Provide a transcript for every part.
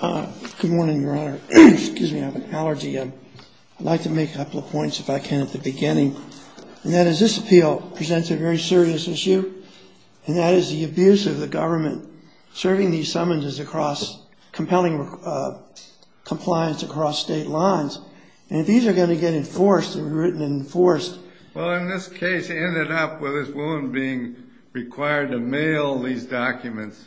Good morning, Your Honor. Excuse me, I have an allergy. I'd like to make a couple of points, if I can, at the beginning. And that is, this appeal presents a very serious issue, and that is the abuse of the government serving these summonses across compelling compliance across state lines. And if these are going to get enforced and written and enforced… Well, in this case, it ended up with this woman being required to mail these documents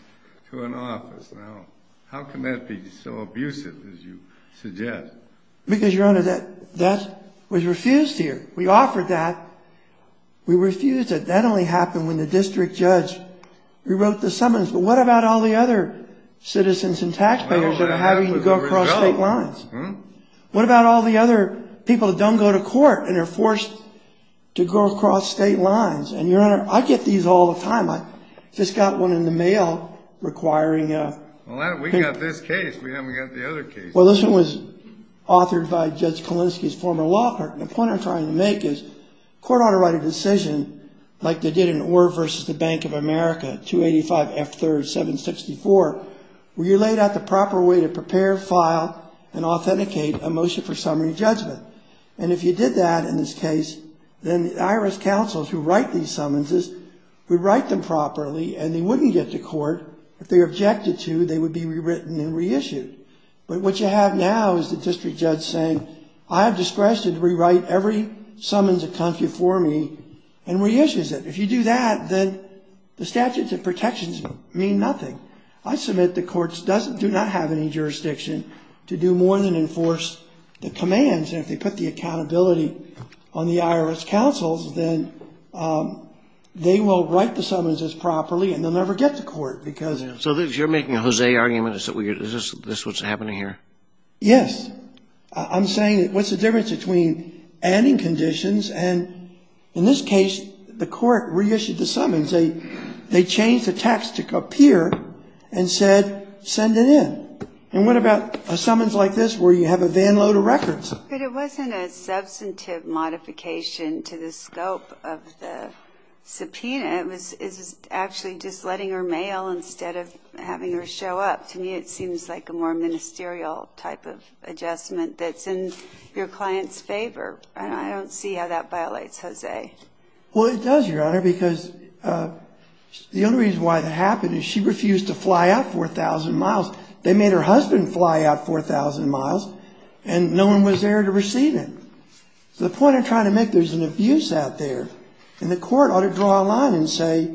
to an office. Now, how can that be so abusive, as you suggest? Because, Your Honor, that was refused here. We offered that. We refused it. That only happened when the district judge rewrote the summons. But what about all the other citizens and taxpayers that are having to go across state lines? What about all the other people that don't go to court and are forced to go across state lines? And, Your Honor, I get these all the time. I just got one in the mail requiring… Well, we got this case. We haven't got the other cases. Well, this one was authored by Judge Kalinsky's former law clerk. And the point I'm trying to make is the court ought to write a decision like they did in Orr v. Bank of America, 285 F. 3rd, 764, where you laid out the proper way to prepare, file, and authenticate a motion for summary judgment. And if you did that in this case, then the IRS counsels who write these summonses would write them properly, and they wouldn't get to court. If they were objected to, they would be rewritten and reissued. But what you have now is the district judge saying, I have discretion to rewrite every summons of country for me and reissues it. If you do that, then the statutes of protections mean nothing. I submit the courts do not have any jurisdiction to do more than enforce the commands. And if they put the accountability on the IRS counsels, then they will write the summonses properly, and they'll never get to court because… So you're making a Jose argument? Is this what's happening here? Yes. I'm saying what's the difference between adding conditions and, in this case, the court reissued the summons. They changed the text to appear and said send it in. And what about a summons like this where you have a van load of records? Well, it does, Your Honor, because the only reason why that happened is she refused to fly out 4,000 miles. They made her husband fly out 4,000 miles, and no one was there to receive him. So the point I'm trying to make, there's an abuse out there, and the court ought to draw a line and say,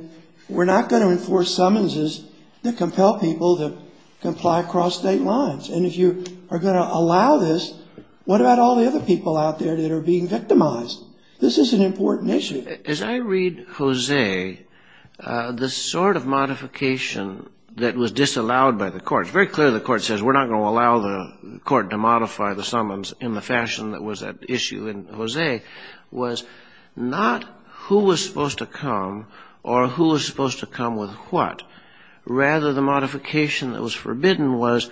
well, We're going to let you fly out 4,000 miles. We're not going to enforce summonses that compel people to comply across state lines. And if you are going to allow this, what about all the other people out there that are being victimized? This is an important issue. As I read Jose, the sort of modification that was disallowed by the court, it's very clear the court says we're not going to allow the court to modify the summons in the fashion that was at issue in Jose, was not who was supposed to come or who was supposed to come with what. Rather, the modification that was forbidden was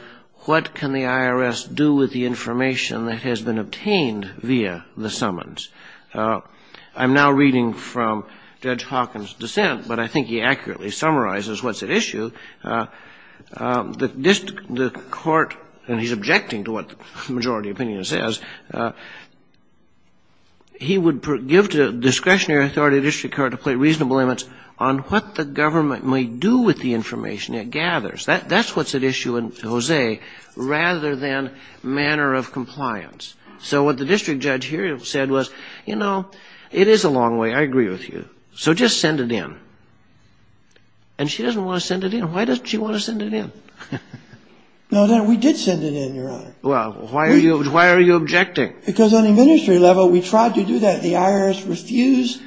what can the IRS do with the information that has been obtained via the summons? I'm now reading from Judge Hawkins' dissent, but I think he accurately summarizes what's at issue. The court, and he's objecting to what the majority opinion says, he would give to discretionary authority of the district court to play reasonable limits on what the government may do with the information it gathers. That's what's at issue in Jose, rather than manner of compliance. So what the district judge here said was, you know, it is a long way, I agree with you, so just send it in. And she doesn't want to send it in. Why doesn't she want to send it in? No, we did send it in, Your Honor. Well, why are you objecting? Because on a ministry level, we tried to do that. The IRS refused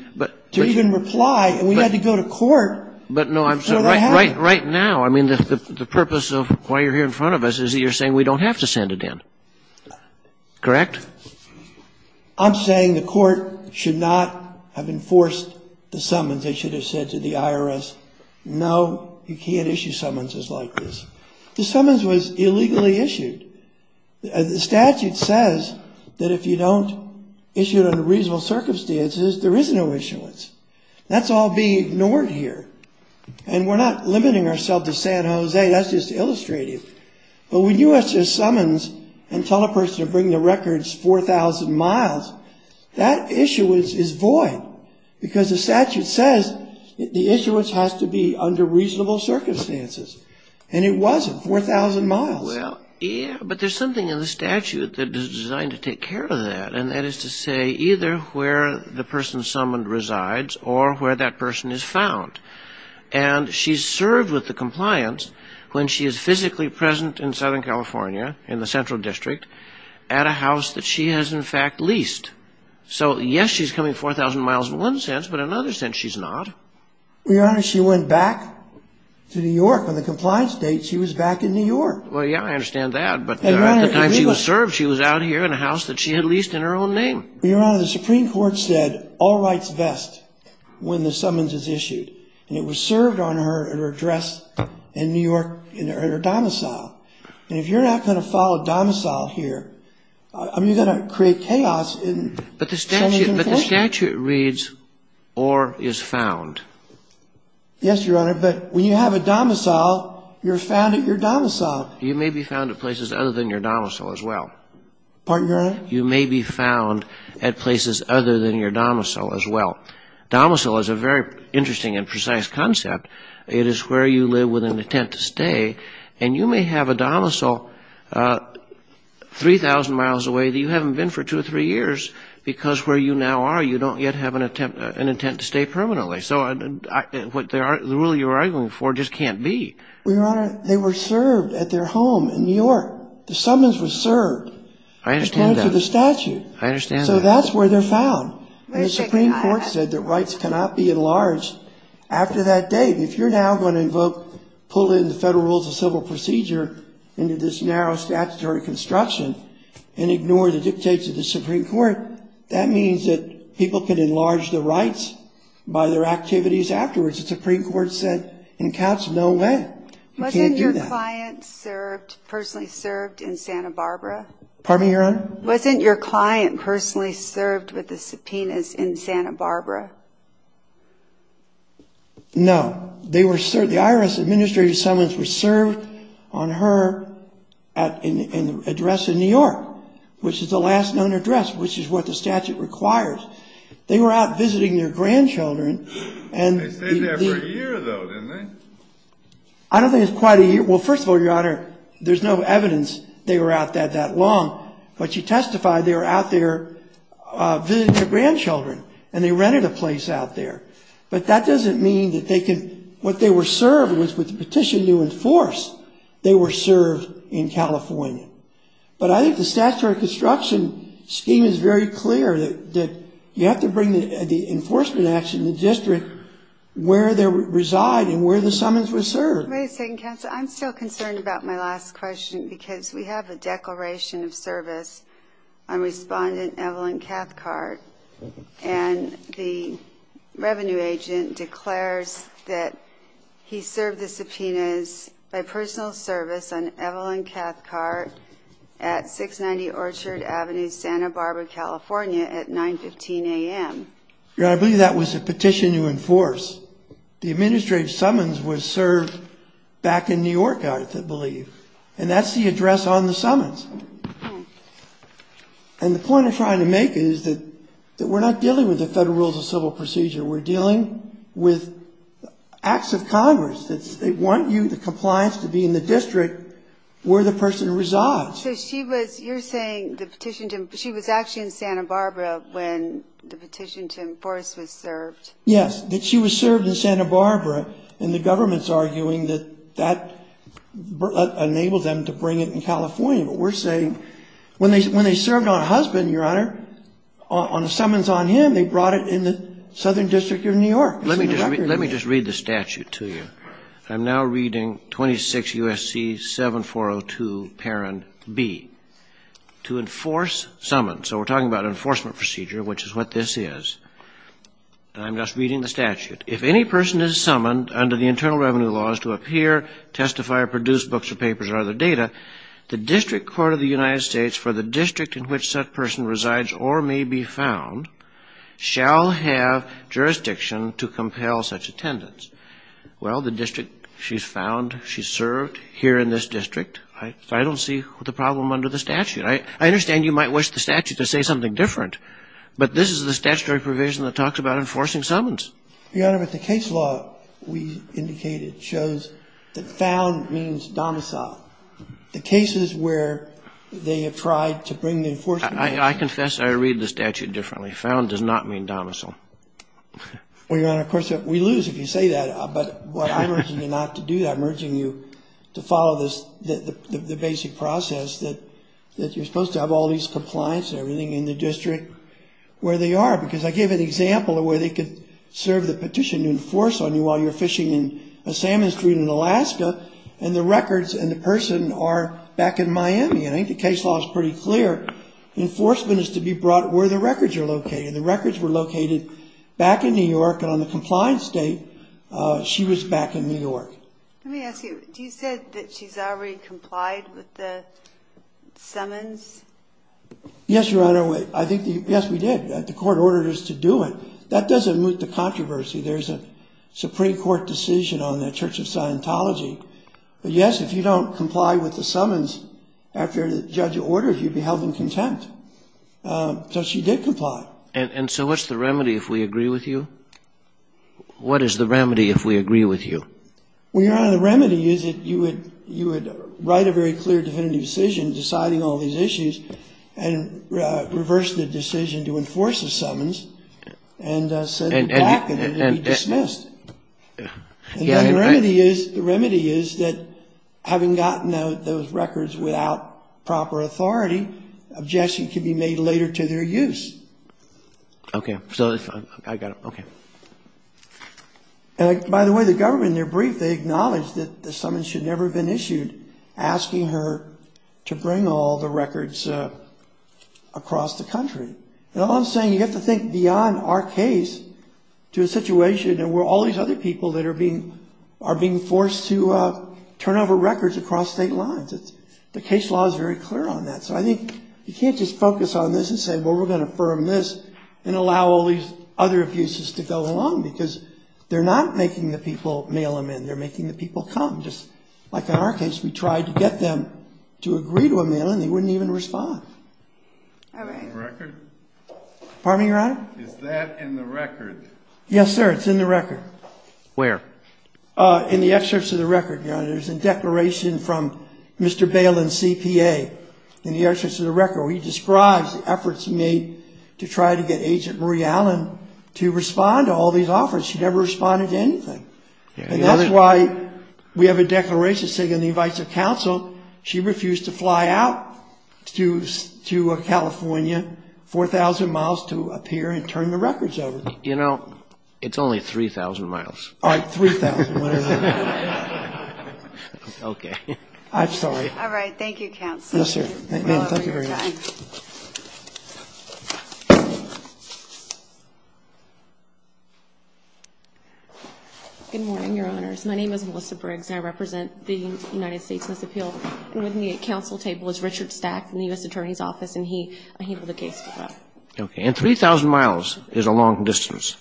to even reply, and we had to go to court. But no, right now, I mean, the purpose of why you're here in front of us is that you're saying we don't have to send it in. Correct? I'm saying the court should not have enforced the summons. They should have said to the IRS, no, you can't issue summonses like this. The summons was illegally issued. The statute says that if you don't issue it under reasonable circumstances, there is no issuance. That's all being ignored here. And we're not limiting ourselves to San Jose. That's just illustrative. But when you issue summons and tell a person to bring the records 4,000 miles, that issuance is void because the statute says the issuance has to be under reasonable circumstances. And it wasn't 4,000 miles. Well, yeah, but there's something in the statute that is designed to take care of that. And that is to say either where the person summoned resides or where that person is found. And she's served with the compliance when she is physically present in Southern California in the central district at a house that she has, in fact, leased. So, yes, she's coming 4,000 miles in one sense, but in another sense she's not. Well, Your Honor, she went back to New York on the compliance date. She was back in New York. Well, yeah, I understand that. But at the time she was served, she was out here in a house that she had leased in her own name. Your Honor, the Supreme Court said all rights vest when the summons is issued. And it was served on her at her address in New York at her domicile. And if you're not going to follow a domicile here, you're going to create chaos. But the statute reads or is found. Yes, Your Honor, but when you have a domicile, you're found at your domicile. You may be found at places other than your domicile as well. Pardon, Your Honor? You may be found at places other than your domicile as well. Domicile is a very interesting and precise concept. It is where you live with an intent to stay. And you may have a domicile 3,000 miles away that you haven't been for two or three years because where you now are you don't yet have an intent to stay permanently. So the rule you're arguing for just can't be. Well, Your Honor, they were served at their home in New York. The summons was served. I understand that. According to the statute. I understand that. So that's where they're found. And the Supreme Court said that rights cannot be enlarged after that date. And if you're now going to invoke, pull in the Federal Rules of Civil Procedure into this narrow statutory construction and ignore the dictates of the Supreme Court, that means that people can enlarge their rights by their activities afterwards. The Supreme Court said in counsel, no way. You can't do that. Wasn't your client personally served in Santa Barbara? Pardon me, Your Honor? Wasn't your client personally served with the subpoenas in Santa Barbara? No. The IRS administrative summons were served on her address in New York, which is the last known address, which is what the statute requires. They were out visiting their grandchildren. They stayed there for a year, though, didn't they? I don't think it was quite a year. Well, first of all, Your Honor, there's no evidence they were out there that long. But you testified they were out there visiting their grandchildren, and they rented a place out there. But that doesn't mean that they can – what they were served was with the petition to enforce, they were served in California. But I think the statutory construction scheme is very clear, that you have to bring the enforcement action in the district where they reside and where the summons were served. Wait a second, counsel. I'm still concerned about my last question because we have a declaration of service on Respondent Evelyn Cathcart, and the revenue agent declares that he served the subpoenas by personal service on Evelyn Cathcart at 690 Orchard Avenue, Santa Barbara, California, at 9.15 a.m. Your Honor, I believe that was a petition to enforce. The administrative summons was served back in New York, I believe, and that's the address on the summons. And the point I'm trying to make is that we're not dealing with the federal rules of civil procedure. We're dealing with acts of Congress that want you, the compliance, to be in the district where the person resides. So she was – you're saying the petition to – she was actually in Santa Barbara when the petition to enforce was served. Yes, that she was served in Santa Barbara, and the government's arguing that that enabled them to bring it in California. But we're saying when they served on a husband, Your Honor, on summons on him, they brought it in the Southern District of New York. Let me just read the statute to you. I'm now reading 26 U.S.C. 7402, Parent B, to enforce summons. So we're talking about an enforcement procedure, which is what this is. And I'm just reading the statute. If any person is summoned under the internal revenue laws to appear, testify, or produce books or papers or other data, the District Court of the United States, for the district in which such person resides or may be found, shall have jurisdiction to compel such attendance. Well, the district she's found, she served here in this district, I don't see the problem under the statute. I understand you might wish the statute to say something different, but this is the statutory provision that talks about enforcing summons. Your Honor, but the case law we indicated shows that found means domicile. The cases where they have tried to bring the enforcement. I confess I read the statute differently. Found does not mean domicile. Well, Your Honor, of course, we lose if you say that. But I'm urging you not to do that. I'm urging you to follow the basic process that you're supposed to have all these compliance and everything in the district where they are. Because I gave an example of where they could serve the petition to enforce on you while you're fishing in a salmon stream in Alaska, and the records and the person are back in Miami. I think the case law is pretty clear. Enforcement is to be brought where the records are located. The records were located back in New York, and on the compliance date, she was back in New York. Let me ask you, you said that she's already complied with the summons? Yes, Your Honor. I think, yes, we did. The court ordered us to do it. That doesn't moot the controversy. There's a Supreme Court decision on the Church of Scientology. But, yes, if you don't comply with the summons after the judge orders, you'd be held in contempt. So she did comply. And so what's the remedy if we agree with you? What is the remedy if we agree with you? Well, Your Honor, the remedy is that you would write a very clear definitive decision deciding all these issues and reverse the decision to enforce the summons and send them back and they'd be dismissed. And the remedy is that having gotten those records without proper authority, objection can be made later to their use. Okay. I got it. Okay. And, by the way, the government, in their brief, they acknowledged that the summons should never have been issued, asking her to bring all the records across the country. And all I'm saying, you have to think beyond our case to a situation where all these other people are being forced to turn over records across state lines. The case law is very clear on that. So I think you can't just focus on this and say, well, we're going to affirm this and allow all these other abuses to go along, because they're not making the people mail them in. They're making the people come. Just like in our case, we tried to get them to agree to a mail-in. They wouldn't even respond. All right. The record? Pardon me, Your Honor? Is that in the record? Yes, sir. It's in the record. Where? In the excerpts of the record, Your Honor. There's a declaration from Mr. Bailin, CPA, in the excerpts of the record where he describes the efforts made to try to get Agent Marie Allen to respond to all these offers. She never responded to anything. And that's why we have a declaration saying on the advice of counsel she refused to fly out to California 4,000 miles to appear and turn the records over. You know, it's only 3,000 miles. All right, 3,000, whatever that is. Okay. I'm sorry. All right. Thank you, counsel. Yes, sir. Thank you very much. Good morning, Your Honors. My name is Melissa Briggs. I represent the United States on this appeal. And with me at counsel table is Richard Stack from the U.S. Attorney's Office, and he handled the case today. Okay. And 3,000 miles is a long distance.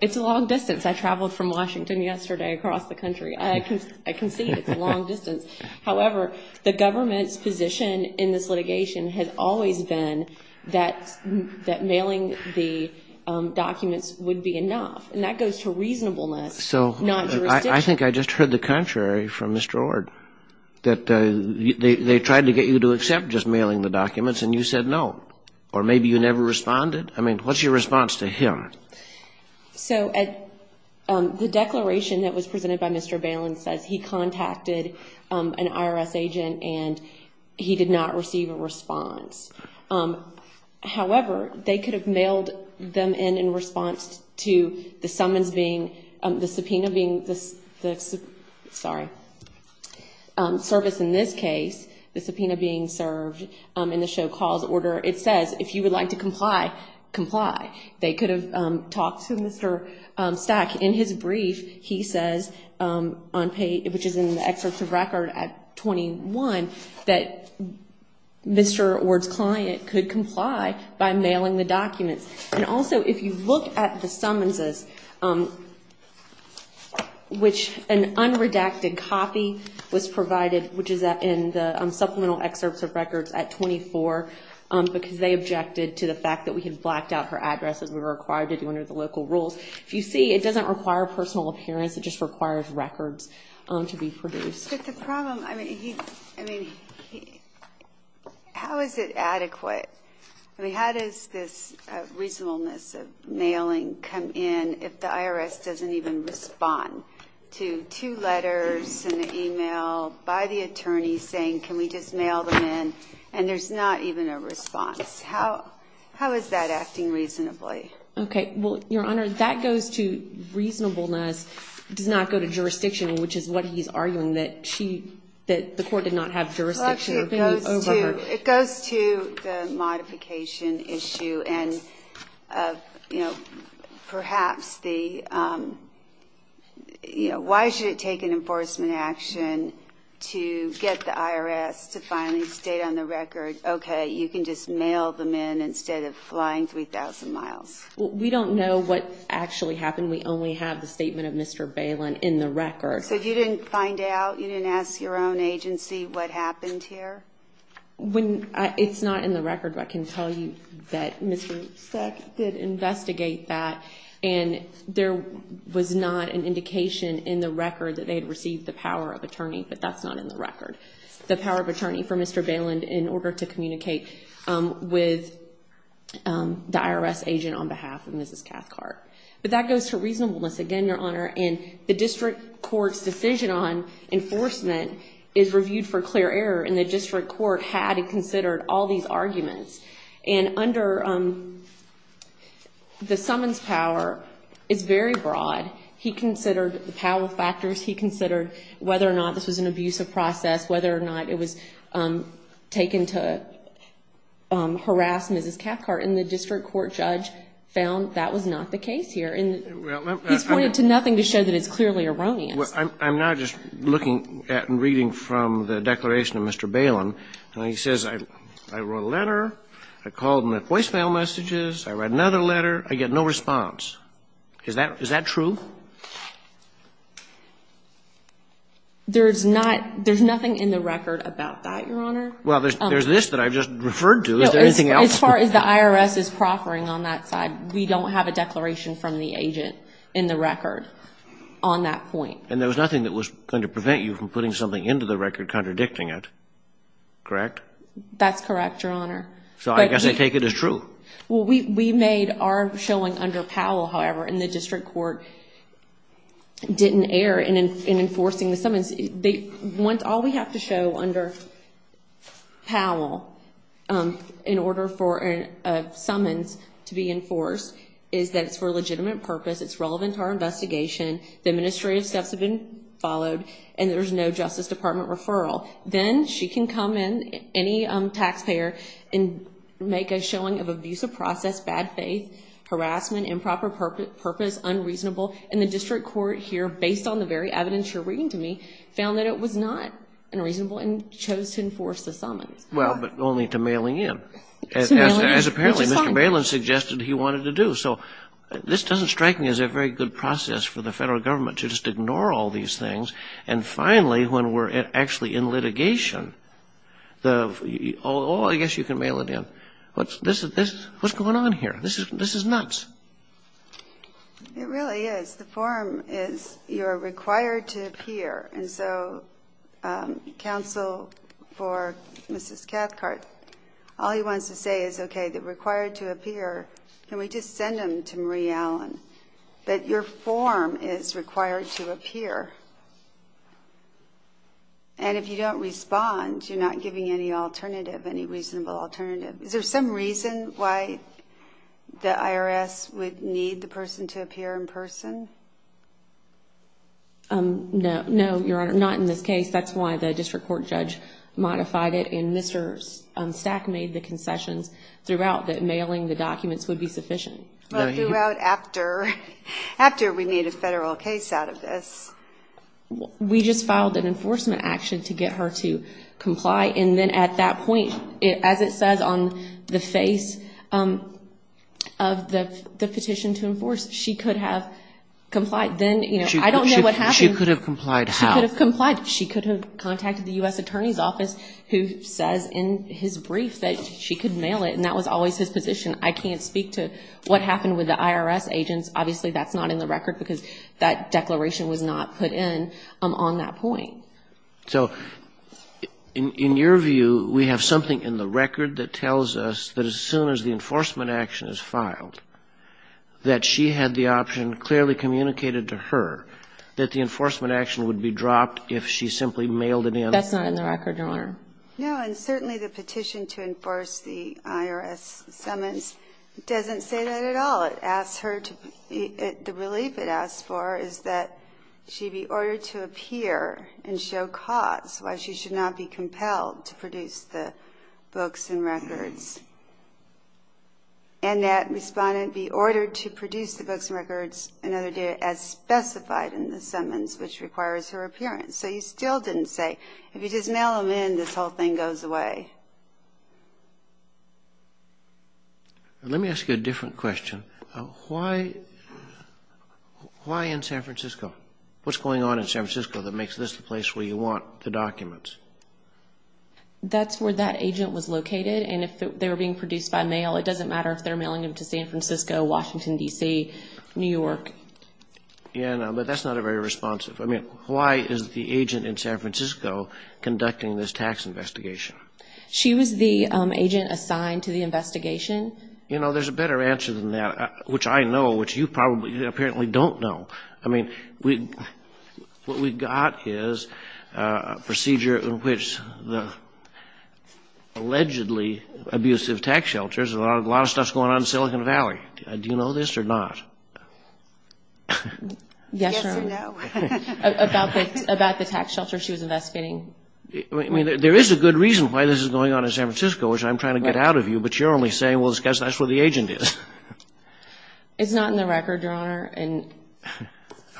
It's a long distance. I traveled from Washington yesterday across the country. I concede it's a long distance. However, the government's position in this litigation has always been that mailing the documents would be enough. And that goes to reasonableness, not jurisdiction. So I think I just heard the contrary from Mr. Ord, that they tried to get you to accept just mailing the documents, and you said no. Or maybe you never responded. I mean, what's your response to him? So the declaration that was presented by Mr. Balin says he contacted an IRS agent, and he did not receive a response. However, they could have mailed them in in response to the summons being, the subpoena being, sorry, service in this case, the subpoena being served in the show calls order. It says, if you would like to comply, comply. They could have talked to Mr. Stack. In his brief, he says, which is in the excerpts of record at 21, that Mr. Ord's client could comply by mailing the documents. And also, if you look at the summonses, which an unredacted copy was provided, which is in the supplemental excerpts of records at 24, because they objected to the fact that we had blacked out her address as we were required to do under the local rules. If you see, it doesn't require personal appearance. It just requires records to be produced. But the problem, I mean, how is it adequate? I mean, how does this reasonableness of mailing come in if the IRS doesn't even respond to two letters and an e-mail by the attorney saying, can we just mail them in, and there's not even a response? How is that acting reasonably? Okay. Well, Your Honor, that goes to reasonableness. It does not go to jurisdiction, which is what he's arguing, that she, that the court did not have jurisdiction over her. It goes to the modification issue and, you know, perhaps the, you know, why should it take an enforcement action to get the IRS to finally state on the record, okay, you can just mail them in instead of flying 3,000 miles? Well, we don't know what actually happened. We only have the statement of Mr. Balin in the record. So you didn't find out? You didn't ask your own agency what happened here? It's not in the record, but I can tell you that Mr. Seck did investigate that, and there was not an indication in the record that they had received the power of attorney, but that's not in the record, the power of attorney for Mr. Balin in order to communicate with the IRS agent on behalf of Mrs. Cathcart. But that goes to reasonableness, again, Your Honor. And the district court's decision on enforcement is reviewed for clear error, and the district court had considered all these arguments. And under the summons power, it's very broad. He considered the power factors. He considered whether or not this was an abusive process, whether or not it was taken to harass Mrs. Cathcart, and the district court judge found that was not the case here. He's pointed to nothing to show that it's clearly erroneous. I'm now just looking at and reading from the declaration of Mr. Balin, and he says, I wrote a letter, I called him at voicemail messages, I read another letter, I get no response. Is that true? There's nothing in the record about that, Your Honor. Well, there's this that I just referred to. Is there anything else? As far as the IRS is proffering on that side, we don't have a declaration from the agent in the record on that point. And there was nothing that was going to prevent you from putting something into the record contradicting it, correct? That's correct, Your Honor. So I guess they take it as true. Well, we made our showing under Powell, however, and the district court didn't err in enforcing the summons. All we have to show under Powell in order for a summons to be enforced is that it's for a legitimate purpose, it's relevant to our investigation, the administrative steps have been followed, and there's no Justice Department referral. Then she can come in, any taxpayer, and make a showing of abusive process, bad faith, harassment, improper purpose, unreasonable. And the district court here, based on the very evidence you're bringing to me, found that it was not unreasonable and chose to enforce the summons. Well, but only to mailing in, as apparently Mr. Malin suggested he wanted to do. So this doesn't strike me as a very good process for the federal government to just ignore all these things. And finally, when we're actually in litigation, oh, I guess you can mail it in. What's going on here? This is nuts. It really is. The form is you're required to appear. And so counsel for Mrs. Cathcart, all he wants to say is, okay, they're required to appear. Can we just send them to Marie Allen? But your form is required to appear. And if you don't respond, you're not giving any alternative, any reasonable alternative. Is there some reason why the IRS would need the person to appear in person? No, Your Honor, not in this case. That's why the district court judge modified it, and Mr. Stack made the concessions throughout that mailing the documents would be sufficient. But throughout after we made a federal case out of this? And then at that point, as it says on the face of the petition to enforce, she could have complied. Then, you know, I don't know what happened. She could have complied how? She could have complied. She could have contacted the U.S. Attorney's Office, who says in his brief that she could mail it, and that was always his position. I can't speak to what happened with the IRS agents. Obviously, that's not in the record, because that declaration was not put in on that point. So in your view, we have something in the record that tells us that as soon as the enforcement action is filed, that she had the option clearly communicated to her that the enforcement action would be dropped if she simply mailed it in? That's not in the record, Your Honor. No, and certainly the petition to enforce the IRS summons doesn't say that at all. The relief it asks for is that she be ordered to appear and show cause why she should not be compelled to produce the books and records, and that respondent be ordered to produce the books and records another day as specified in the summons, which requires her appearance. So you still didn't say, if you just mail them in, this whole thing goes away? Let me ask you a different question. Why in San Francisco? What's going on in San Francisco that makes this the place where you want the documents? That's where that agent was located, and if they were being produced by mail, it doesn't matter if they're mailing them to San Francisco, Washington, D.C., New York. Yeah, but that's not very responsive. I mean, why is the agent in San Francisco conducting this tax investigation? She was the agent assigned to the investigation. You know, there's a better answer than that, which I know, which you probably apparently don't know. I mean, what we got is a procedure in which the allegedly abusive tax shelters, a lot of stuff's going on in Silicon Valley. Do you know this or not? Yes or no. About the tax shelters she was investigating. I mean, there is a good reason why this is going on in San Francisco, which I'm trying to get out of you, but you're only saying, well, because that's where the agent is. It's not in the record, Your Honor.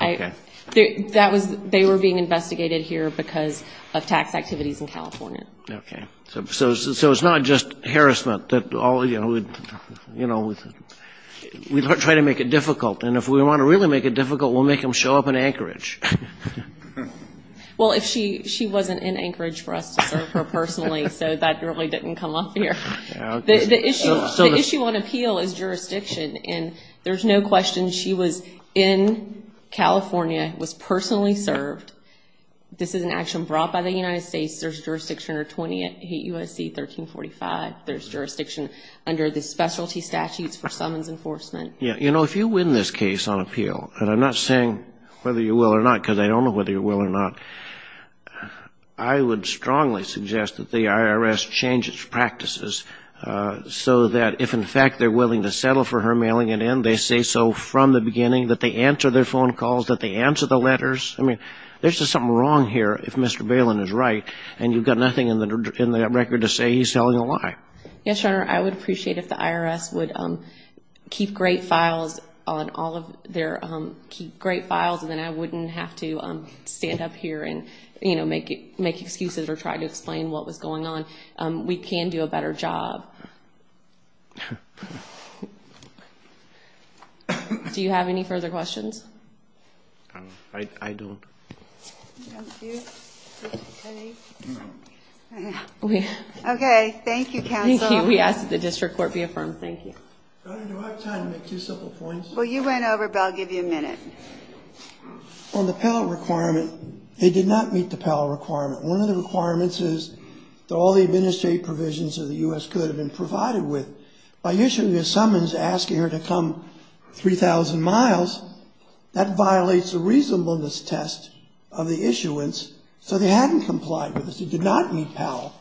Okay. They were being investigated here because of tax activities in California. Okay. So it's not just harassment that all, you know, we try to make it difficult, and if we want to really make it difficult, we'll make them show up in Anchorage. Well, if she wasn't in Anchorage for us to serve her personally, so that really didn't come up here. The issue on appeal is jurisdiction, and there's no question she was in California, was personally served. This is an action brought by the United States. There's jurisdiction under 28 U.S.C. 1345. There's jurisdiction under the specialty statutes for summons enforcement. You know, if you win this case on appeal, and I'm not saying whether you will or not, because I don't know whether you will or not, I would strongly suggest that the IRS change its practices so that if, in fact, they're willing to settle for her mailing it in, they say so from the beginning, that they answer their phone calls, that they answer the letters. I mean, there's just something wrong here if Mr. Balin is right, and you've got nothing in the record to say he's telling a lie. Yes, Your Honor, I would appreciate if the IRS would keep great files on all of their great files, and then I wouldn't have to stand up here and, you know, make excuses or try to explain what was going on. We can do a better job. Do you have any further questions? I don't. Thank you. Okay, thank you, counsel. Thank you. We ask that the district court be affirmed. Thank you. Do I have time to make two simple points? Well, you went over, but I'll give you a minute. On the Pell requirement, it did not meet the Pell requirement. One of the requirements is that all the administrative provisions of the U.S. could have been provided with. By issuing a summons asking her to come 3,000 miles, that violates the reasonableness test of the issuance, so they hadn't complied with this. It did not meet Pell.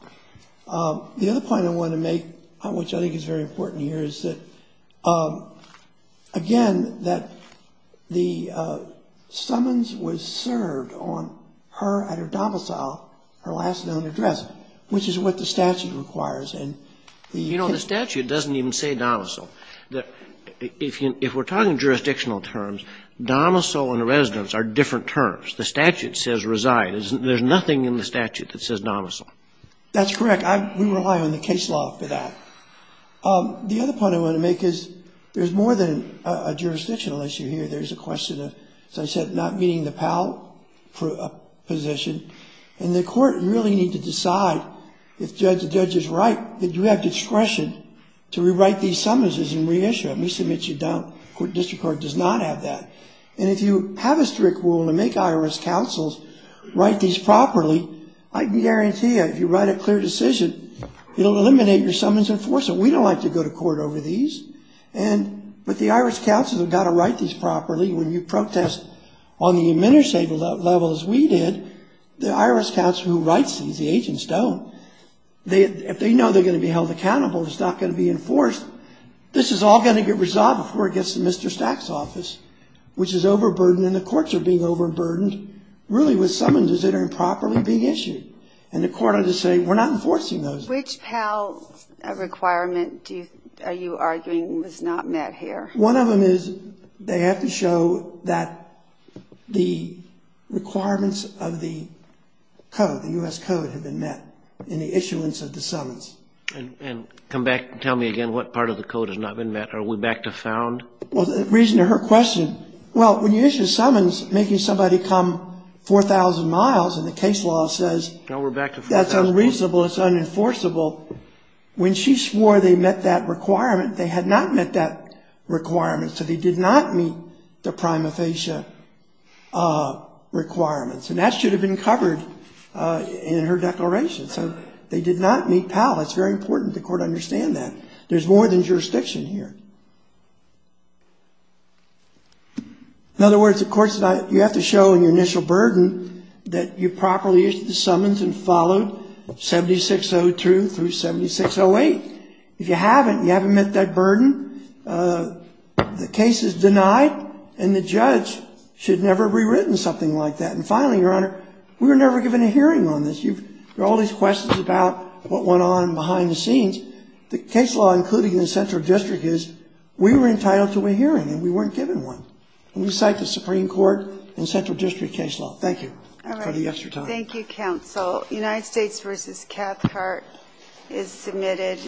The other point I want to make, which I think is very important here, is that, again, that the summons was served on her at her domicile, her last known address, which is what the statute requires. You know, the statute doesn't even say domicile. If we're talking jurisdictional terms, domicile and residence are different terms. The statute says reside. There's nothing in the statute that says domicile. That's correct. We rely on the case law for that. The other point I want to make is there's more than a jurisdictional issue here. There's a question of, as I said, not meeting the Pell position. And the court really need to decide, if the judge is right, that you have discretion to rewrite these summonses and reissue them. We submit you don't. The court district court does not have that. And if you have a strict rule to make IRS counsels write these properly, I can guarantee you if you write a clear decision, it will eliminate your summons enforcement. We don't like to go to court over these. But the IRS counsels have got to write these properly. When you protest on the administrative level as we did, the IRS counsel who writes these, the agents don't. If they know they're going to be held accountable, it's not going to be enforced. This is all going to get resolved before it gets to Mr. Stack's office, which is overburdened. And the courts are being overburdened really with summonses that are improperly being issued. And the court ought to say, we're not enforcing those. Which Pell requirement are you arguing was not met here? One of them is they have to show that the requirements of the code, the U.S. code, have been met in the issuance of the summons. And come back and tell me again what part of the code has not been met. Are we back to found? Well, the reason to her question, well, when you issue summons, making somebody come 4,000 miles and the case law says that's unreasonable, it's unenforceable, when she swore they met that requirement, they had not met that requirement. So they did not meet the prima facie requirements. And that should have been covered in her declaration. So they did not meet Pell. It's very important the court understand that. There's more than jurisdiction here. In other words, the court said you have to show in your initial burden that you properly issued the summons and followed 7602 through 7608. If you haven't, you haven't met that burden, the case is denied, and the judge should never have rewritten something like that. And finally, Your Honor, we were never given a hearing on this. There are all these questions about what went on behind the scenes. The case law, including the central district, is we were entitled to a hearing, and we weren't given one. And we cite the Supreme Court and central district case law. Thank you for the extra time. Thank you, counsel. United States v. Cathcart is submitted.